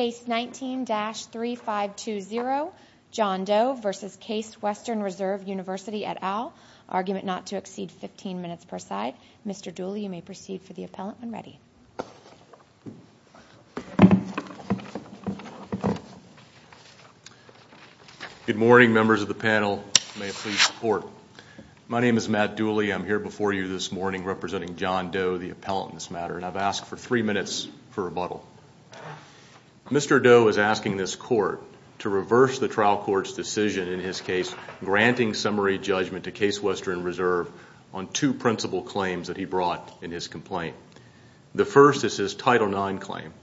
Case 19-3520, John Doe v. Case Western Reserve University, et al., argument not to exceed 15 minutes per side. Mr. Dooley, you may proceed for the appellant when ready. Good morning, members of the panel. May it please the Court. My name is Matt Dooley. I'm here before you this morning representing John Doe, the appellant in this matter, and I've asked for three minutes for rebuttal. Mr. Doe is asking this Court to reverse the trial court's decision in his case granting summary judgment to Case Western Reserve on two principal claims that he brought in his complaint. The first is his Title IX claim,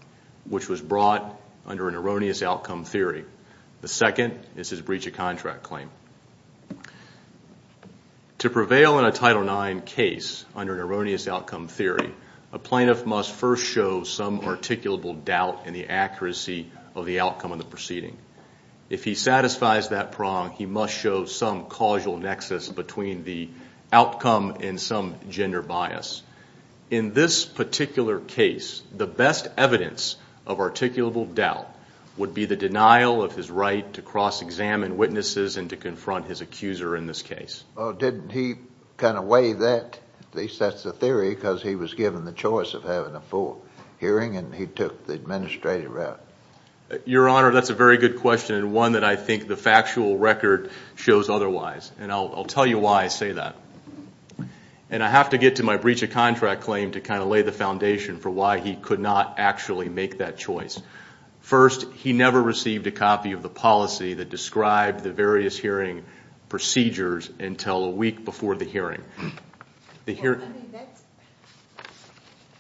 which was brought under an erroneous outcome theory. The second is his breach of contract claim. To prevail in a Title IX case under an erroneous outcome theory, a plaintiff must first show some articulable doubt in the accuracy of the outcome of the proceeding. If he satisfies that prong, he must show some causal nexus between the outcome and some gender bias. In this particular case, the best evidence of articulable doubt would be the denial of his right to cross-examine witnesses and to confront his accuser in this case. Well, didn't he kind of weigh that? At least that's the theory, because he was given the choice of having a full hearing, and he took the administrative route. Your Honor, that's a very good question, and one that I think the factual record shows otherwise, and I'll tell you why I say that. And I have to get to my breach of contract claim to kind of lay the foundation for why he could not actually make that choice. First, he never received a copy of the policy that described the various hearing procedures until a week before the hearing.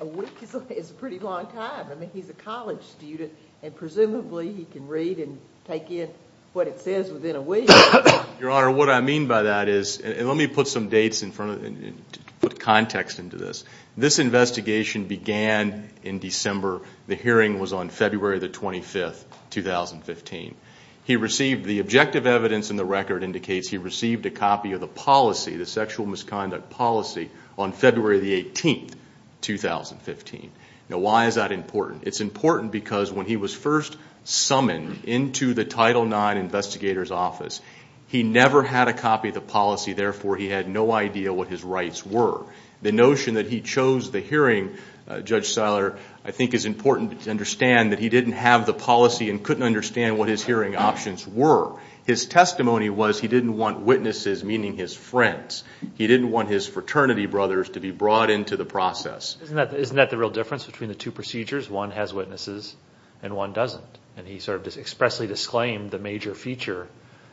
A week is a pretty long time. I mean, he's a college student, and presumably he can read and take in what it says within a week. Your Honor, what I mean by that is, and let me put some dates in front of, put context into this. This investigation began in December. The hearing was on February the 25th, 2015. He received, the objective evidence in the record indicates he received a copy of the policy, the sexual misconduct policy, on February the 18th, 2015. Now, why is that important? It's important because when he was first summoned into the Title IX Investigator's Office, he never had a copy of the policy, therefore he had no idea what his rights were. The notion that he chose the hearing, Judge Seiler, I think is important to understand that he didn't have the policy and couldn't understand what his hearing options were. His testimony was he didn't want witnesses, meaning his friends, he didn't want his fraternity brothers to be brought into the process. Isn't that the real difference between the two procedures? One has witnesses and one doesn't. And he sort of expressly disclaimed the major feature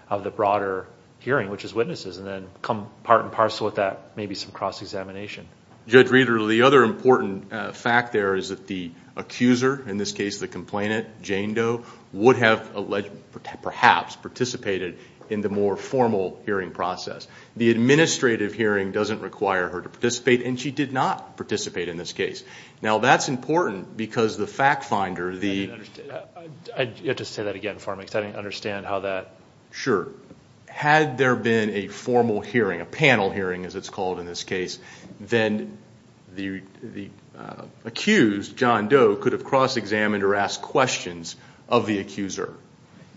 of the broader hearing, which is witnesses, and then come part and parcel with that, maybe some cross-examination. Judge Reeder, the other important fact there is that the accuser, in this case the complainant, Jane Doe, would have alleged, perhaps participated in the more formal hearing process. The administrative hearing doesn't require her to participate, and she did not participate in this case. Now, that's important because the fact finder, the... I'd have to say that again for me, because I don't understand how that... If there had been a formal hearing, a panel hearing as it's called in this case, then the accused, John Doe, could have cross-examined or asked questions of the accuser.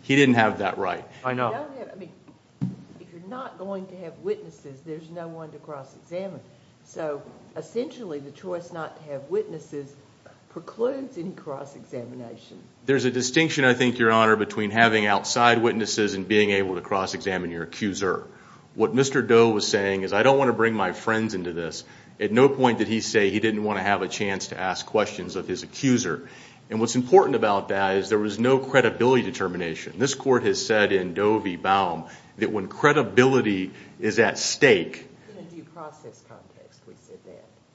He didn't have that right. I know. I mean, if you're not going to have witnesses, there's no one to cross-examine. So, essentially, the choice not to have witnesses precludes any cross-examination. There's a distinction, I think, Your Honor, between having outside witnesses and being able to cross-examine your accuser. What Mr. Doe was saying is, I don't want to bring my friends into this. At no point did he say he didn't want to have a chance to ask questions of his accuser. What's important about that is there was no credibility determination. This court has said in Doe v. Baum that when credibility is at stake... In a due process context, we said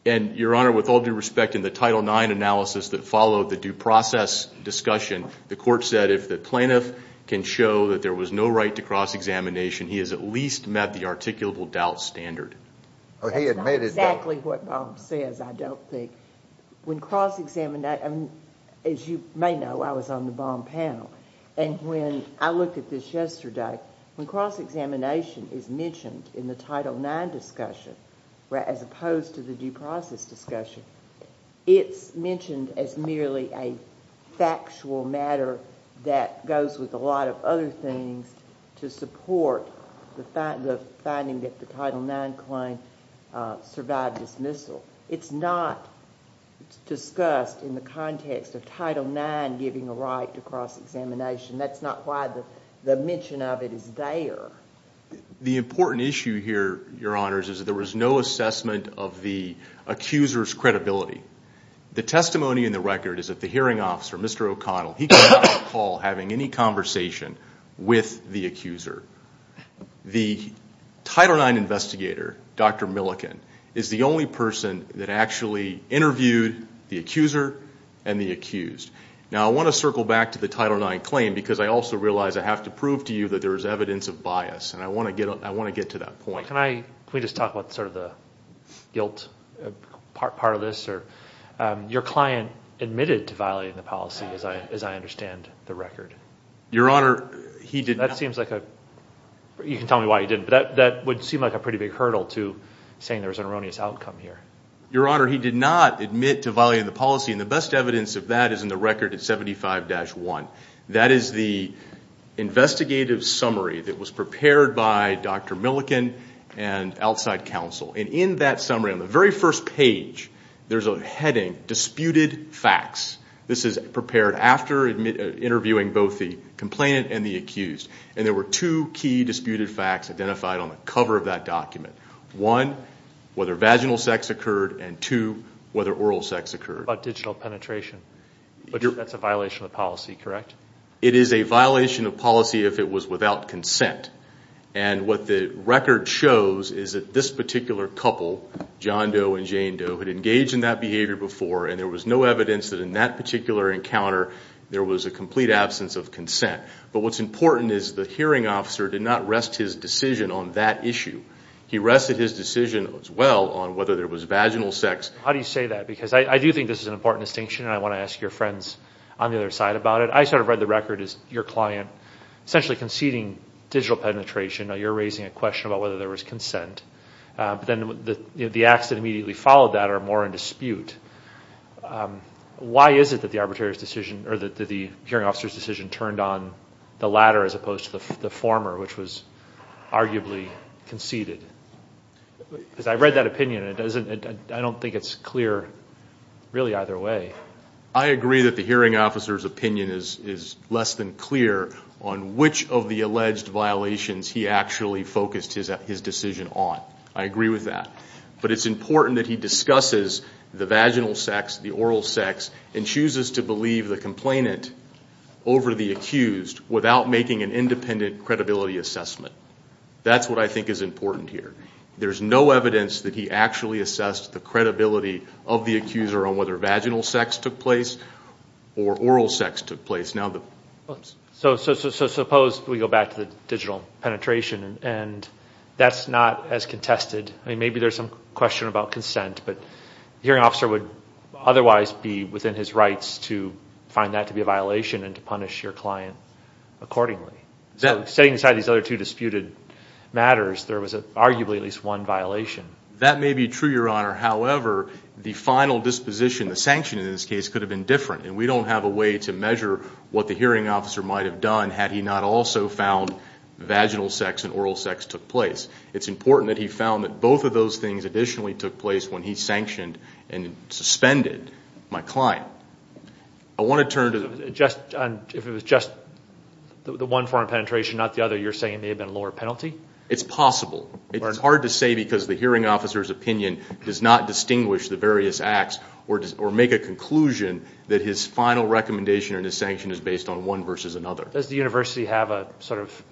that. Your Honor, with all due respect, in the Title IX analysis that followed the due process discussion, the court said if the plaintiff can show that there was no right to cross-examination, he has at least met the articulable doubt standard. He admitted that. That's not exactly what Baum says, I don't think. When cross-examination... As you may know, I was on the Baum panel, and when I looked at this yesterday, when cross-examination is mentioned in the Title IX discussion, as opposed to the due process discussion, it's mentioned as merely a factual matter that goes with a lot of other things to support the finding that the Title IX claim survived dismissal. It's not discussed in the context of Title IX giving a right to cross-examination. That's not why the mention of it is there. The important issue here, Your Honors, is there was no assessment of the accuser's credibility. The testimony in the record is that the hearing officer, Mr. O'Connell, he could not recall having any conversation with the accuser. The Title IX investigator, Dr. Milliken, is the only person that actually interviewed the accuser and the accused. Now I want to circle back to the Title IX claim, because I also realize I have to prove to you that there is evidence of bias, and I want to get to that point. Can we just talk about sort of the guilt part of this? Your client admitted to violating the policy, as I understand the record. Your Honor, he did not. That seems like a... You can tell me why he didn't, but that would seem like a pretty big hurdle to saying there was an erroneous outcome here. Your Honor, he did not admit to violating the policy, and the best evidence of that is in the record at 75-1. That is the investigative summary that was prepared by Dr. Milliken and outside counsel. In that summary, on the very first page, there's a heading, Disputed Facts. This is prepared after interviewing both the complainant and the accused, and there were two key disputed facts identified on the cover of that document. One, whether vaginal sex occurred, and two, whether oral sex occurred. What about digital penetration? That's a violation of the policy, correct? It is a violation of policy if it was without consent. What the record shows is that this particular couple, John Doe and Jane Doe, had engaged in that behavior before, and there was no evidence that in that particular encounter there was a complete absence of consent. What's important is the hearing officer did not rest his decision on that issue. He rested his decision as well on whether there was vaginal sex. How do you say that? I do think this is an important distinction, and I want to ask your friends on the other side about it. I read the record as your client essentially conceding digital penetration. You're raising a question about whether there was consent. The acts that immediately followed that are more in dispute. Why is it that the hearing officer's decision turned on the latter as opposed to the former, which was arguably conceded? Because I read that opinion, and I don't think it's clear really either way. I agree that the hearing officer's opinion is less than clear on which of the alleged violations he actually focused his decision on. I agree with that. But it's important that he discusses the vaginal sex, the oral sex, and chooses to believe the complainant over the accused without making an independent credibility assessment. That's what I think is important here. There's no evidence that he actually assessed the credibility of the accuser on whether vaginal sex took place or oral sex took place. So suppose we go back to the digital penetration, and that's not as contested. Maybe there's some question about consent, but the hearing officer would otherwise be within his rights to find that to be a violation and to punish your client accordingly. Setting aside these other two disputed matters, there was arguably at least one violation. That may be true, Your Honor. However, the final disposition, the sanction in this case, could have been different. We don't have a way to measure what the hearing officer might have done had he not also found vaginal sex and oral sex took place. It's important that he found that both of those things additionally took place when he sanctioned and suspended my client. If it was just the one form of penetration, not the other, you're saying it may have been a lower penalty? It's possible. It's hard to say because the hearing officer's opinion does not distinguish the various acts or make a conclusion that his final recommendation or his sanction is based on one versus another. Does the university have a sort of,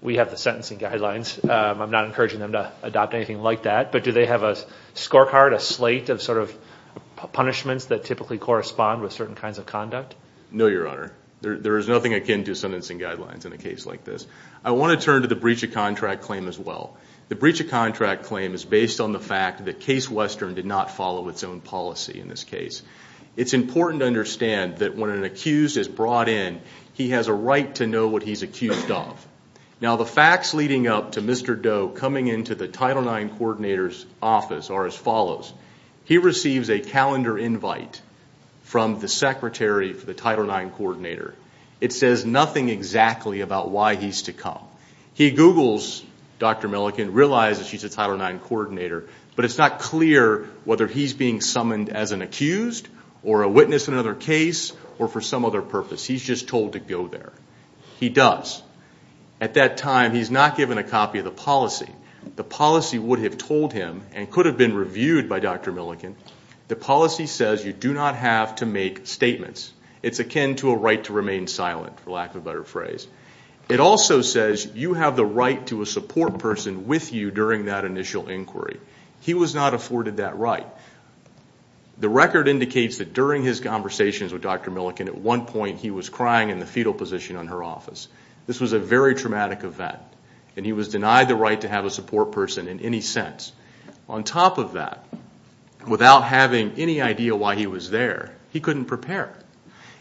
we have the sentencing guidelines, I'm not encouraging them to adopt anything like that, but do they have a scorecard, a slate of punishments that typically correspond with certain kinds of conduct? No, Your Honor. There is nothing akin to sentencing guidelines in a case like this. I want to turn to the breach of contract claim as well. The breach of contract claim is based on the fact that Case Western did not follow its own policy in this case. It's important to understand that when an accused is brought in, he has a right to know what he's accused of. Now the facts leading up to Mr. Doe coming into the Title IX coordinator's office are as follows. He receives a calendar invite from the secretary for the Title IX coordinator. It says nothing exactly about why he's to come. He Googles Dr. Milliken, realizes she's a Title IX coordinator, but it's not clear whether he's being summoned as an accused or a witness in another case or for some other purpose. He's just told to go there. He does. At that time, he's not given a copy of the policy. The policy would have told him and could have been reviewed by Dr. Milliken. The policy says you do not have to make statements. It's akin to a right to remain silent, for lack of a better phrase. It also says you have the right to a support person with you during that initial inquiry. He was not afforded that right. The record indicates that during his conversations with Dr. Milliken, at one point he was crying in the fetal position on her office. This was a very traumatic event. He was denied the right to have a support person in any sense. On top of that, without having any idea why he was there, he couldn't prepare.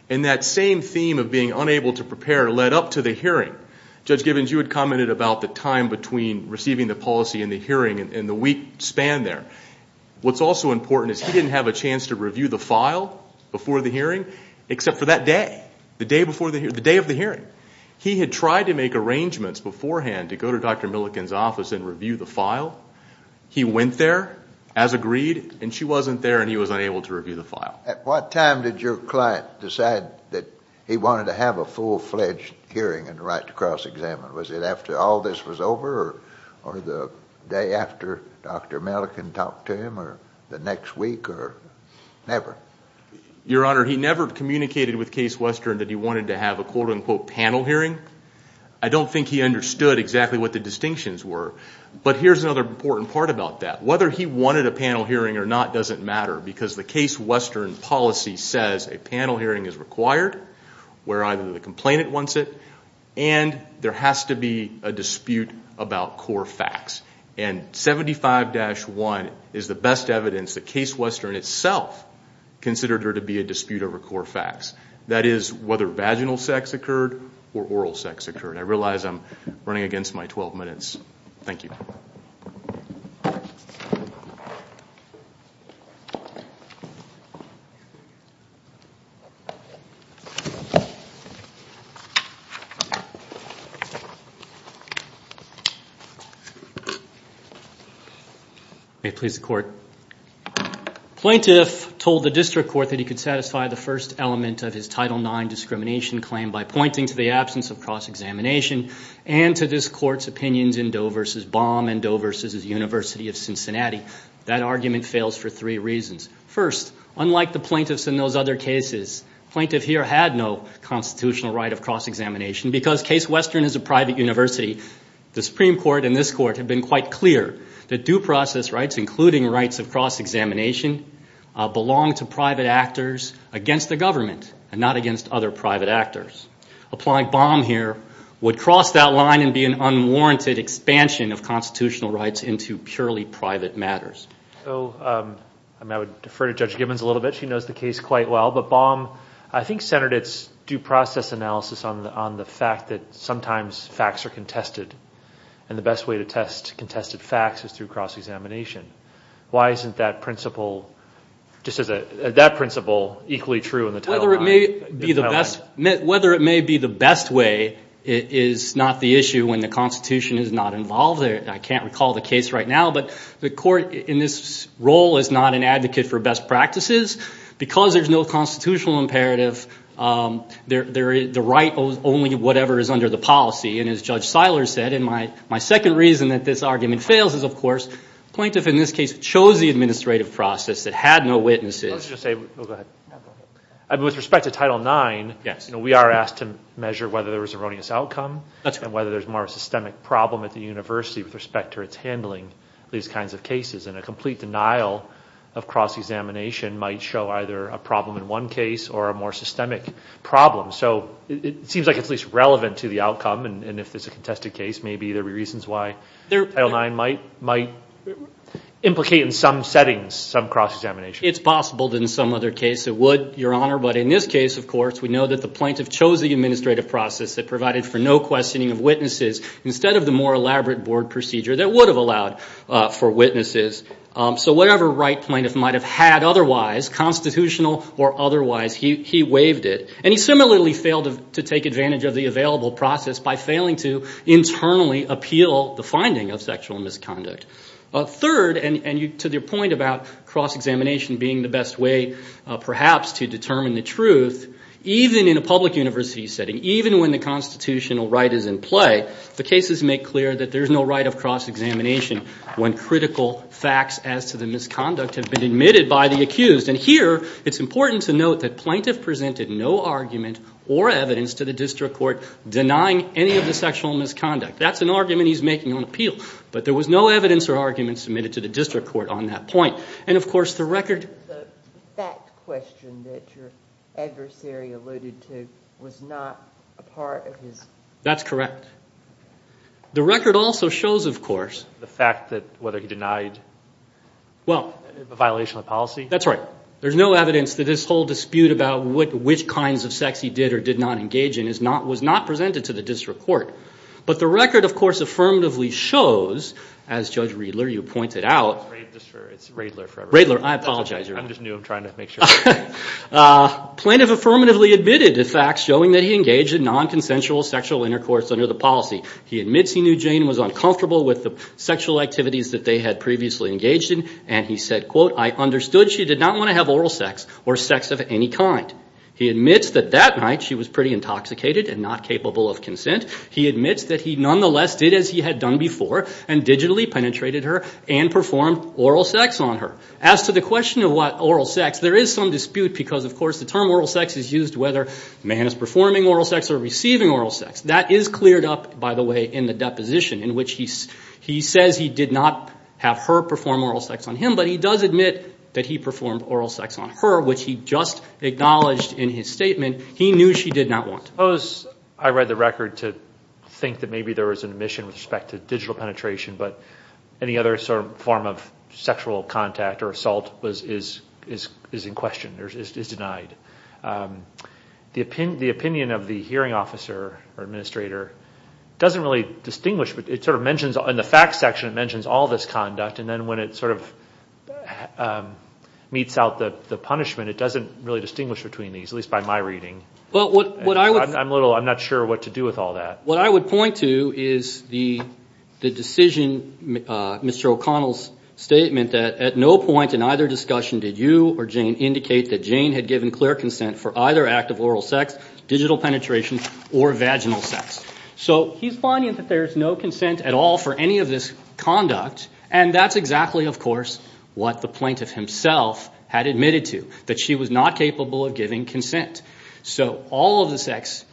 That same theme of being unable to prepare led up to the hearing. Judge Gibbons, you had commented about the time between receiving the policy and the hearing and the week span there. What's also important is he didn't have a chance to review the file before the hearing except for that day, the day of the hearing. He had tried to make arrangements beforehand to go to Dr. Milliken's office and review the file. He went there, as agreed, and she wasn't there and he was unable to review the file. At what time did your client decide that he wanted to have a full-fledged hearing and right to cross-examine? Was it after all this was over or the day after Dr. Milliken talked to him or the next week or never? Your Honor, he never communicated with Case Western that he wanted to have a quote-unquote panel hearing. I don't think he understood exactly what the distinctions were. But here's another important part about that. Whether he wanted a panel hearing or not doesn't matter because the Case Western policy says a panel hearing is required where either the complainant wants it and there has to be a dispute about core facts. And 75-1 is the best evidence that Case Western itself considered there to be a dispute over core facts. That is whether vaginal sex occurred or oral sex occurred. I realize I'm running against my 12 minutes. Thank you. May it please the Court. Plaintiff told the District Court that he could satisfy the first element of his Title IX discrimination claim by pointing to the absence of cross-examination and to this Court's opinions in Doe v. Baum and Doe v. University of Cincinnati. That argument fails for three reasons. First, unlike the plaintiffs in those other cases, plaintiff here had no constitutional right of cross-examination because Case Western is a private university. The Supreme Court and this Court have been quite clear that due process rights, including rights of cross-examination, belong to private actors against the government and not against other private actors. Applying Baum here would cross that line and be an unwarranted expansion of constitutional rights into purely private matters. I would defer to Judge Gibbons a little bit. She knows the case quite well, but Baum, I think, centered its due process analysis on the fact that sometimes facts are contested and the best way to test contested facts is through cross-examination. Why isn't that principle equally true in the Title IX? Whether it may be the best way is not the issue when the Constitution is not involved. I can't recall the case right now, but the Court in this role is not an advocate for only whatever is under the policy. As Judge Seiler said, and my second reason that this argument fails is, of course, the plaintiff in this case chose the administrative process that had no witnesses. With respect to Title IX, we are asked to measure whether there was an erroneous outcome and whether there's more of a systemic problem at the university with respect to its handling these kinds of cases. A complete denial of cross-examination might show either a problem in one case or a more systemic problem. It seems like it's at least relevant to the outcome, and if it's a contested case, maybe there'd be reasons why Title IX might implicate in some settings some cross-examination. It's possible that in some other case it would, Your Honor, but in this case, of course, we know that the plaintiff chose the administrative process that provided for no questioning of witnesses instead of the more elaborate board procedure that would have allowed for witnesses. Whatever right plaintiff might have had otherwise, constitutional or otherwise, he waived it. And he similarly failed to take advantage of the available process by failing to internally appeal the finding of sexual misconduct. Third, and to your point about cross-examination being the best way perhaps to determine the truth, even in a public university setting, even when the constitutional right is in play, the cases make clear that there's no right of cross-examination when critical facts as to the misconduct have been admitted by the accused. And here, it's important to note that plaintiff presented no argument or evidence to the district court denying any of the sexual misconduct. That's an argument he's making on appeal, but there was no evidence or argument submitted to the district court on that point. And of course, the record- The fact question that your adversary alluded to was not a part of his- That's correct. The record also shows, of course- The fact that whether he denied a violation of policy? That's right. There's no evidence that this whole dispute about which kinds of sex he did or did not engage in was not presented to the district court. But the record, of course, affirmatively shows, as Judge Riedler, you pointed out- It's Riedler for everybody. Riedler, I apologize. I'm just new. I'm trying to make sure. Plaintiff affirmatively admitted the facts showing that he engaged in non-consensual sexual intercourse under the policy. He admits he knew Jane was uncomfortable with the sexual activities that they had previously engaged in. And he said, quote, I understood she did not want to have oral sex or sex of any kind. He admits that that night she was pretty intoxicated and not capable of consent. He admits that he nonetheless did as he had done before and digitally penetrated her and performed oral sex on her. As to the question of what oral sex, there is some dispute because, of course, the term oral sex is used whether a man is performing oral sex or receiving oral sex. That is cleared up, by the way, in the deposition in which he says he did not have her perform oral sex on him, but he does admit that he performed oral sex on her, which he just acknowledged in his statement. He knew she did not want to. Suppose I read the record to think that maybe there was an omission with respect to digital penetration, but any other sort of form of sexual contact or assault is in question, is denied. The opinion of the hearing officer or administrator doesn't really distinguish, but it sort of mentions in the facts section, it mentions all this conduct. When it meets out the punishment, it doesn't really distinguish between these, at least by my reading. I'm not sure what to do with all that. What I would point to is the decision, Mr. O'Connell's statement, that at no point in either discussion did you or Jane indicate that Jane had given clear consent for either act of oral sex, digital penetration, or vaginal sex. He's finding that there's no consent at all for any of this conduct. That's exactly, of course, what the plaintiff himself had admitted to, that she was not capable of giving consent. All of the sex,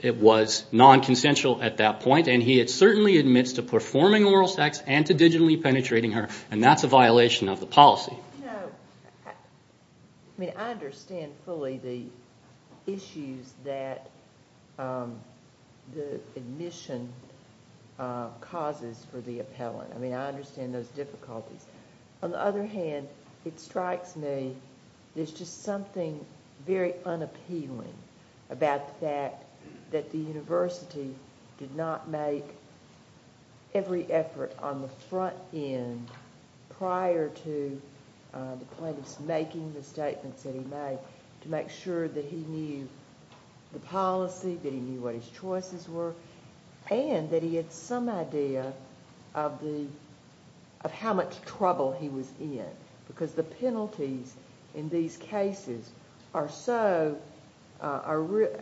it was non-consensual at that point, and he had certainly admits to performing oral sex and to digitally penetrating her, and that's a violation of the policy. I understand fully the issues that the admission causes for the appellant. I understand those difficulties. On the other hand, it strikes me there's just something very unappealing about the fact that the university did not make every effort on the front end prior to the plaintiff's making the statements that he made to make sure that he knew the policy, that he knew what his choices were, and that he had some idea of how much trouble he was in, because the penalties in these cases are so... the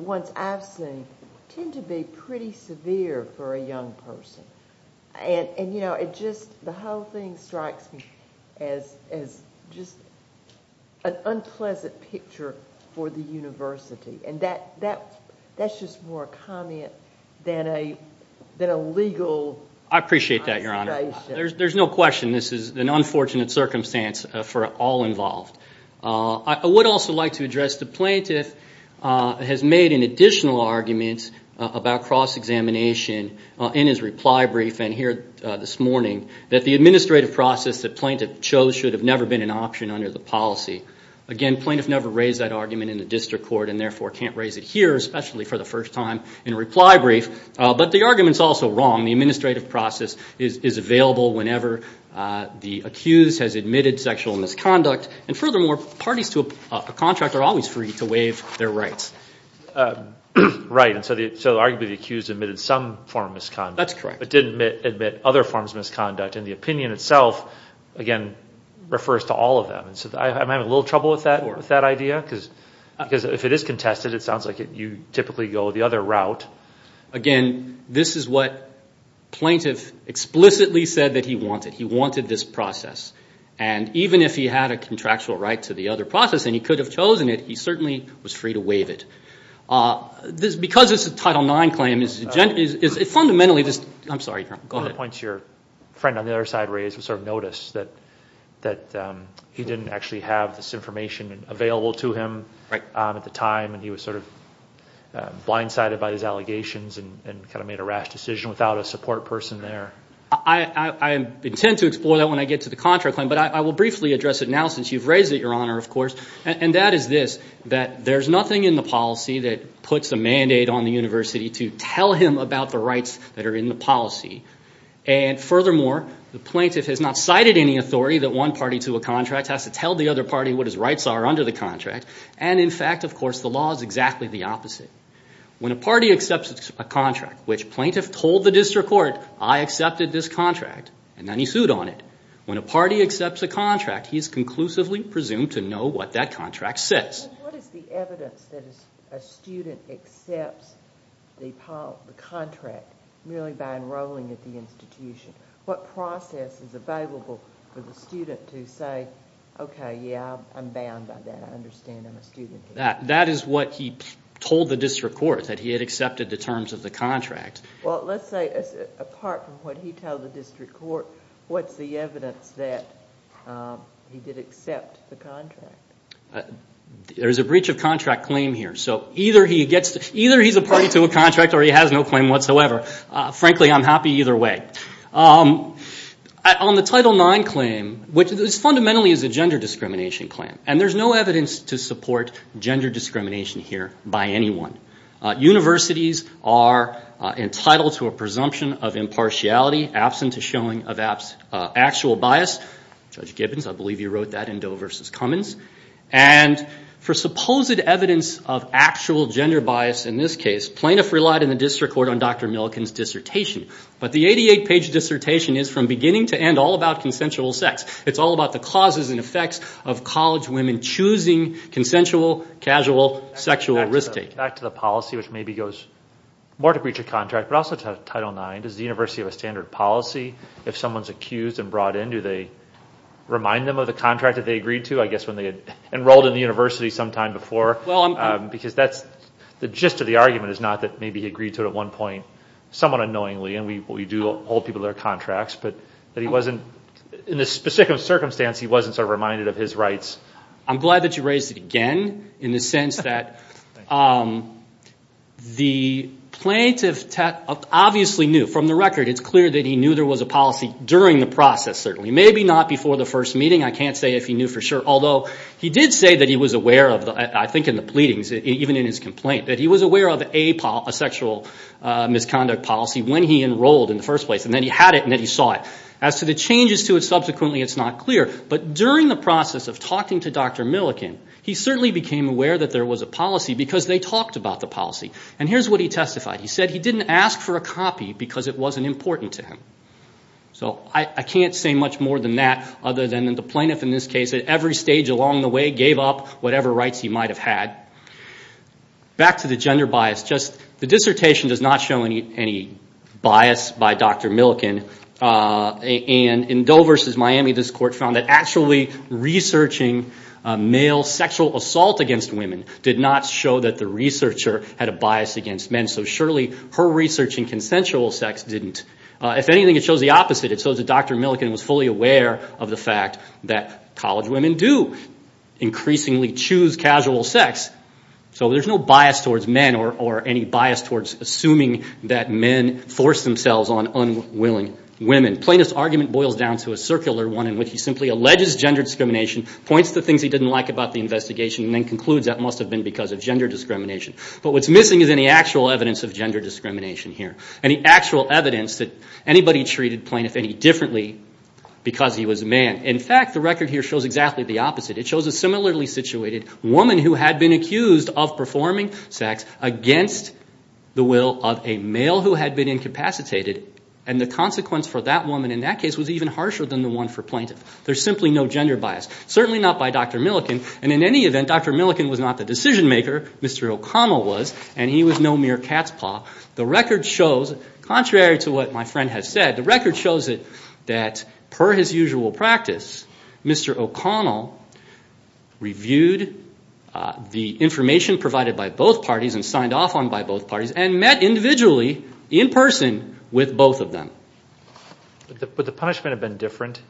ones I've seen tend to be pretty severe for a young person. The whole thing strikes me as just an unpleasant picture for the university, and that's just more a comment than a legal observation. I appreciate that, Your Honor. There's no question this is an unfortunate circumstance for all involved. I would also like to address the plaintiff has made an additional argument about cross-examination in his reply brief, and here this morning, that the administrative process the plaintiff chose should have never been an option under the policy. Again, plaintiff never raised that argument in the district court, and therefore can't raise it here, especially for the first time in a reply brief, but the argument's also wrong. The administrative process is available whenever the accused has admitted sexual misconduct, and furthermore, parties to a contract are always free to waive their rights. Right, and so arguably the accused admitted some form of misconduct. That's correct. But didn't admit other forms of misconduct, and the opinion itself, again, refers to all of them. I'm having a little trouble with that idea, because if it is contested, it sounds like you typically go the other route. Again, this is what plaintiff explicitly said that he wanted. He wanted this process. And even if he had a contractual right to the other process, and he could have chosen it, he certainly was free to waive it. Because it's a Title IX claim, it's fundamentally just... I'm sorry, go ahead. One of the points your friend on the other side raised was sort of notice that he didn't actually have this information available to him at the time, and he was sort of blindsided by his allegations and kind of made a rash decision without a support person there. I intend to explore that when I get to the contract claim, but I will briefly address it now since you've raised it, Your Honor, of course. And that is this, that there's nothing in the policy that puts a mandate on the university to tell him about the rights that are in the policy, and furthermore, the plaintiff has not cited any authority that one party to a contract has to tell the other party what his rights are under the contract, and in fact, of course, the law is exactly the opposite. When a party accepts a contract, which plaintiff told the district court, I accepted this contract, and then he sued on it. When a party accepts a contract, he is conclusively presumed to know what that contract says. What is the evidence that a student accepts the contract merely by enrolling at the institution? What process is available for the student to say, okay, yeah, I'm bound by that, I understand I'm a student here. That is what he told the district court, that he had accepted the terms of the contract. Well, let's say, apart from what he told the district court, what's the evidence that he did accept the contract? There's a breach of contract claim here, so either he's a party to a contract or he has no claim whatsoever. Frankly, I'm happy either way. On the Title IX claim, which fundamentally is a gender discrimination claim, and there's no evidence to support gender discrimination here by anyone. Universities are entitled to a presumption of impartiality, absent a showing of actual bias. Judge Gibbons, I believe you wrote that in Doe versus Cummins. For supposed evidence of actual gender bias in this case, plaintiff relied on the district court on Dr. Milliken's dissertation, but the 88-page dissertation is from beginning to end all about consensual sex. It's all about the causes and effects of college women choosing consensual, casual, sexual risk takers. Back to the policy, which maybe goes more to breach of contract, but also to Title IX. Does the university have a standard policy if someone's accused and brought in? Do they remind them of the contract that they agreed to? I guess when they had enrolled in the university sometime before, because the gist of the argument is not that maybe he agreed to it at one point, somewhat unknowingly, and we do hold people their contracts, but in this specific circumstance, he wasn't reminded of his rights. I'm glad that you raised it again in the sense that the plaintiff obviously knew. From the record, it's clear that he knew there was a policy during the process, certainly. Maybe not before the first meeting. I can't say if he knew for sure, although he did say that he was aware of, I think in the pleadings, even in his complaint, that he was aware of a sexual misconduct policy when he enrolled in the first place, and then he had it, and then he saw it. As to the changes to it subsequently, it's not clear, but during the process of talking to Dr. Milliken, he certainly became aware that there was a policy because they talked about the policy. And here's what he testified. He said he didn't ask for a copy because it wasn't important to him. So I can't say much more than that, other than the plaintiff, in this case, at every stage along the way, gave up whatever rights he might have had. Back to the gender bias. The dissertation does not show any bias by Dr. Milliken, and in Doe v. Miami, this court found that actually researching male sexual assault against women did not show that the researcher had a bias against men, so surely her research in consensual sex didn't. If anything, it shows the opposite. It shows that Dr. Milliken was fully aware of the fact that college women do increasingly choose casual sex, so there's no bias towards men or any bias towards assuming that men force themselves on unwilling women. Plaintiff's argument boils down to a circular one in which he simply alleges gender discrimination, points to things he didn't like about the investigation, and then concludes that must have been because of gender discrimination. But what's missing is any actual evidence of gender discrimination here, any actual evidence that anybody treated the plaintiff any differently because he was a man. In fact, the record here shows exactly the opposite. It shows a similarly situated woman who had been accused of performing sex against the will of a male who had been incapacitated, and the consequence for that woman in that case was even harsher than the one for plaintiff. There's simply no gender bias, certainly not by Dr. Milliken, and in any event, Dr. Milliken was not the decision maker. Mr. O'Connell was, and he was no mere cat's paw. The record shows, contrary to what my friend has said, the record shows that per his usual practice, Mr. O'Connell reviewed the information provided by both parties and signed off on by both parties and met individually in person with both of them. But the punishment had been different?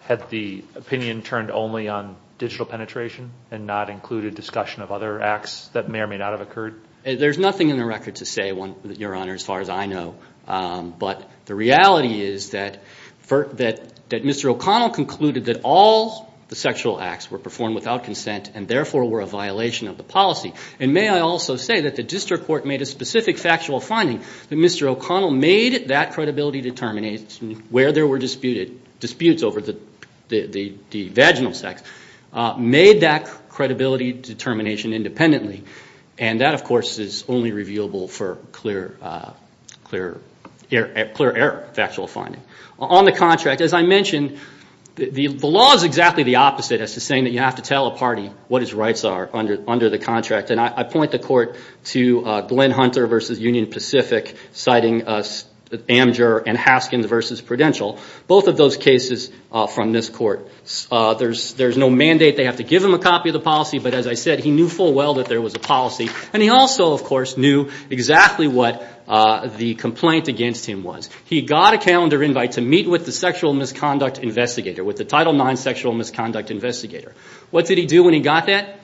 Had the opinion turned only on digital penetration and not included discussion of other acts that may or may not have occurred? There's nothing in the record to say, Your Honor, as far as I know, but the reality is that Mr. O'Connell concluded that all the sexual acts were performed without consent and therefore were a violation of the policy, and may I also say that the district court made a specific factual finding that Mr. O'Connell made that credibility determination where there were disputes over the vaginal sex, made that credibility determination independently, and that, of course, is only revealable for clear error factual finding. On the contract, as I mentioned, the law is exactly the opposite as to saying that you have to tell a party what his rights are under the contract, and I point the court to Glenn Hunter versus Union Pacific, citing Amger and Haskins versus Prudential, both of those cases from this court. There's no mandate they have to give him a copy of the policy, but as I said, he knew full well that there was a policy, and he also, of course, knew exactly what the complaint against him was. He got a calendar invite to meet with the sexual misconduct investigator, with the Title IX sexual misconduct investigator. What did he do when he got that?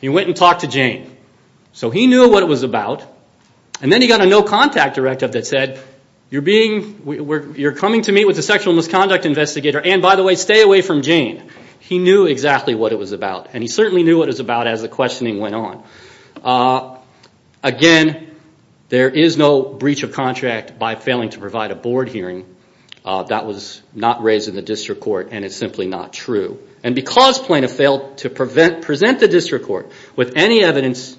He went and talked to Jane. So he knew what it was about, and then he got a no contact directive that said, You're being, you're coming to meet with the sexual misconduct investigator, and by the way, stay away from Jane. He knew exactly what it was about, and he certainly knew what it was about as the questioning went on. Again, there is no breach of contract by failing to provide a board hearing. That was not raised in the district court, and it's simply not true. Because Plano failed to present the district court with any evidence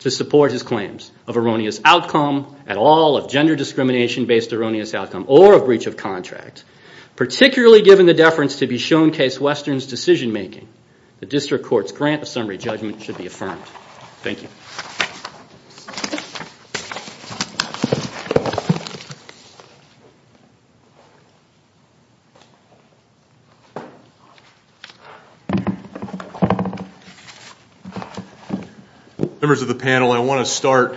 to support his claims of erroneous outcome at all, of gender discrimination based erroneous outcome, or a breach of contract, particularly given the deference to be shown case Western's decision making, the district court's grant of summary judgment should be affirmed. Members of the panel, I want to start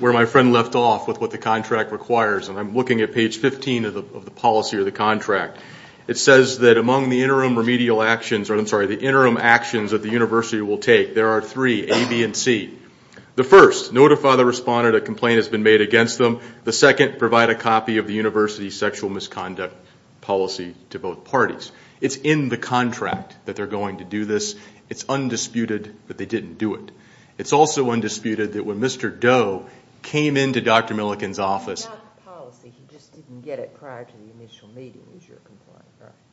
where my friend left off with what the contract requires, and I'm looking at page 15 of the policy or the contract. It says that among the interim remedial actions, or I'm sorry, the interim actions that the university will take, there are three, A, B, and C. The first, notify the responder that a complaint has been made against them. The second, provide a copy of the university's sexual misconduct policy to both parties. It's in the contract that they're going to do this. It's undisputed that they didn't do it. It's also undisputed that when Mr. Doe came into Dr. Millikin's office.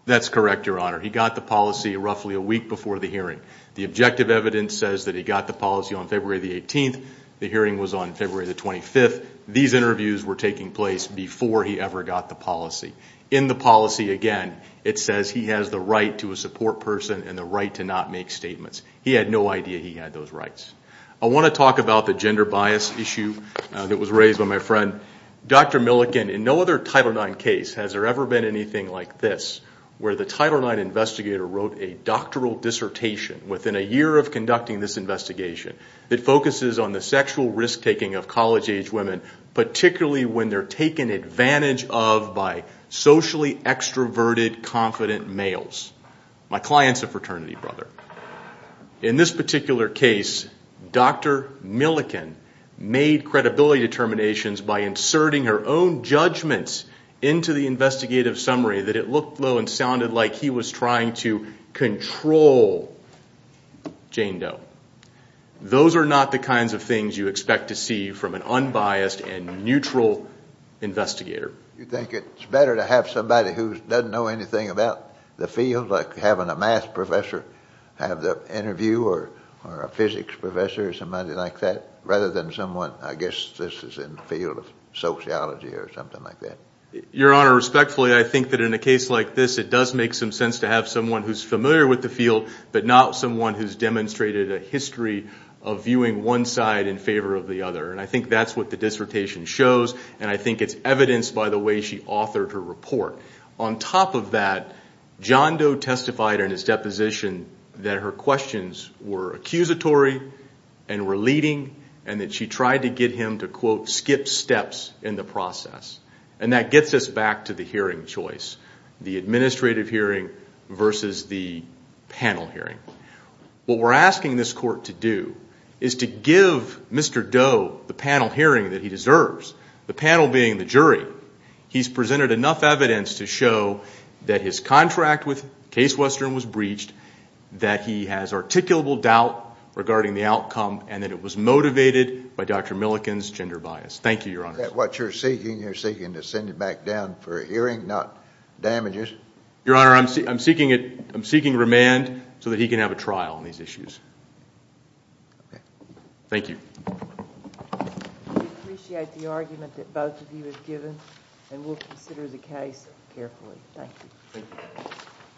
That's correct, your honor. He got the policy roughly a week before the hearing. The objective evidence says that he got the policy on February the 18th. The hearing was on February the 25th. These interviews were taking place before he ever got the policy. In the policy, again, it says he has the right to a support person and the right to not make statements. He had no idea he had those rights. I want to talk about the gender bias issue that was raised by my friend. Dr. Millikin, in no other Title IX case has there ever been anything like this, where the Title IX investigator wrote a doctoral dissertation within a year of conducting this investigation that focuses on the sexual risk-taking of college-age women, particularly when they're taken advantage of by socially extroverted, confident males. My client's a fraternity brother. In this particular case, Dr. Millikin made credibility determinations by inserting her own judgments into the investigative summary that it looked low and sounded like he was trying to control Jane Doe. Those are not the kinds of things you expect to see from an unbiased and neutral investigator. You think it's better to have somebody who doesn't know anything about the field, like having a math professor have the interview, or a physics professor, or somebody like that, rather than someone, I guess this is in the field of sociology or something like that? Your Honor, respectfully, I think that in a case like this, it does make some sense to have someone who's familiar with the field, but not someone who's demonstrated a history of viewing one side in favor of the other. I think that's what the dissertation shows, and I think it's evidenced by the way she authored her report. On top of that, John Doe testified in his deposition that her questions were accusatory and were leading, and that she tried to get him to, quote, skip steps in the process. That gets us back to the hearing choice, the administrative hearing versus the panel hearing. What we're asking this court to do is to give Mr. Doe the panel hearing that he deserves, the panel being the jury. He's presented enough evidence to show that his contract with Case Western was breached, that he has articulable doubt regarding the outcome, and that it was motivated by Dr. Milliken's gender bias. Thank you, Your Honor. Is that what you're seeking? You're seeking to send him back down for a hearing, not damages? Your Honor, I'm seeking remand so that he can have a trial on these issues. Thank you. We appreciate the argument that both of you have given, and we'll consider the case carefully. Thank you.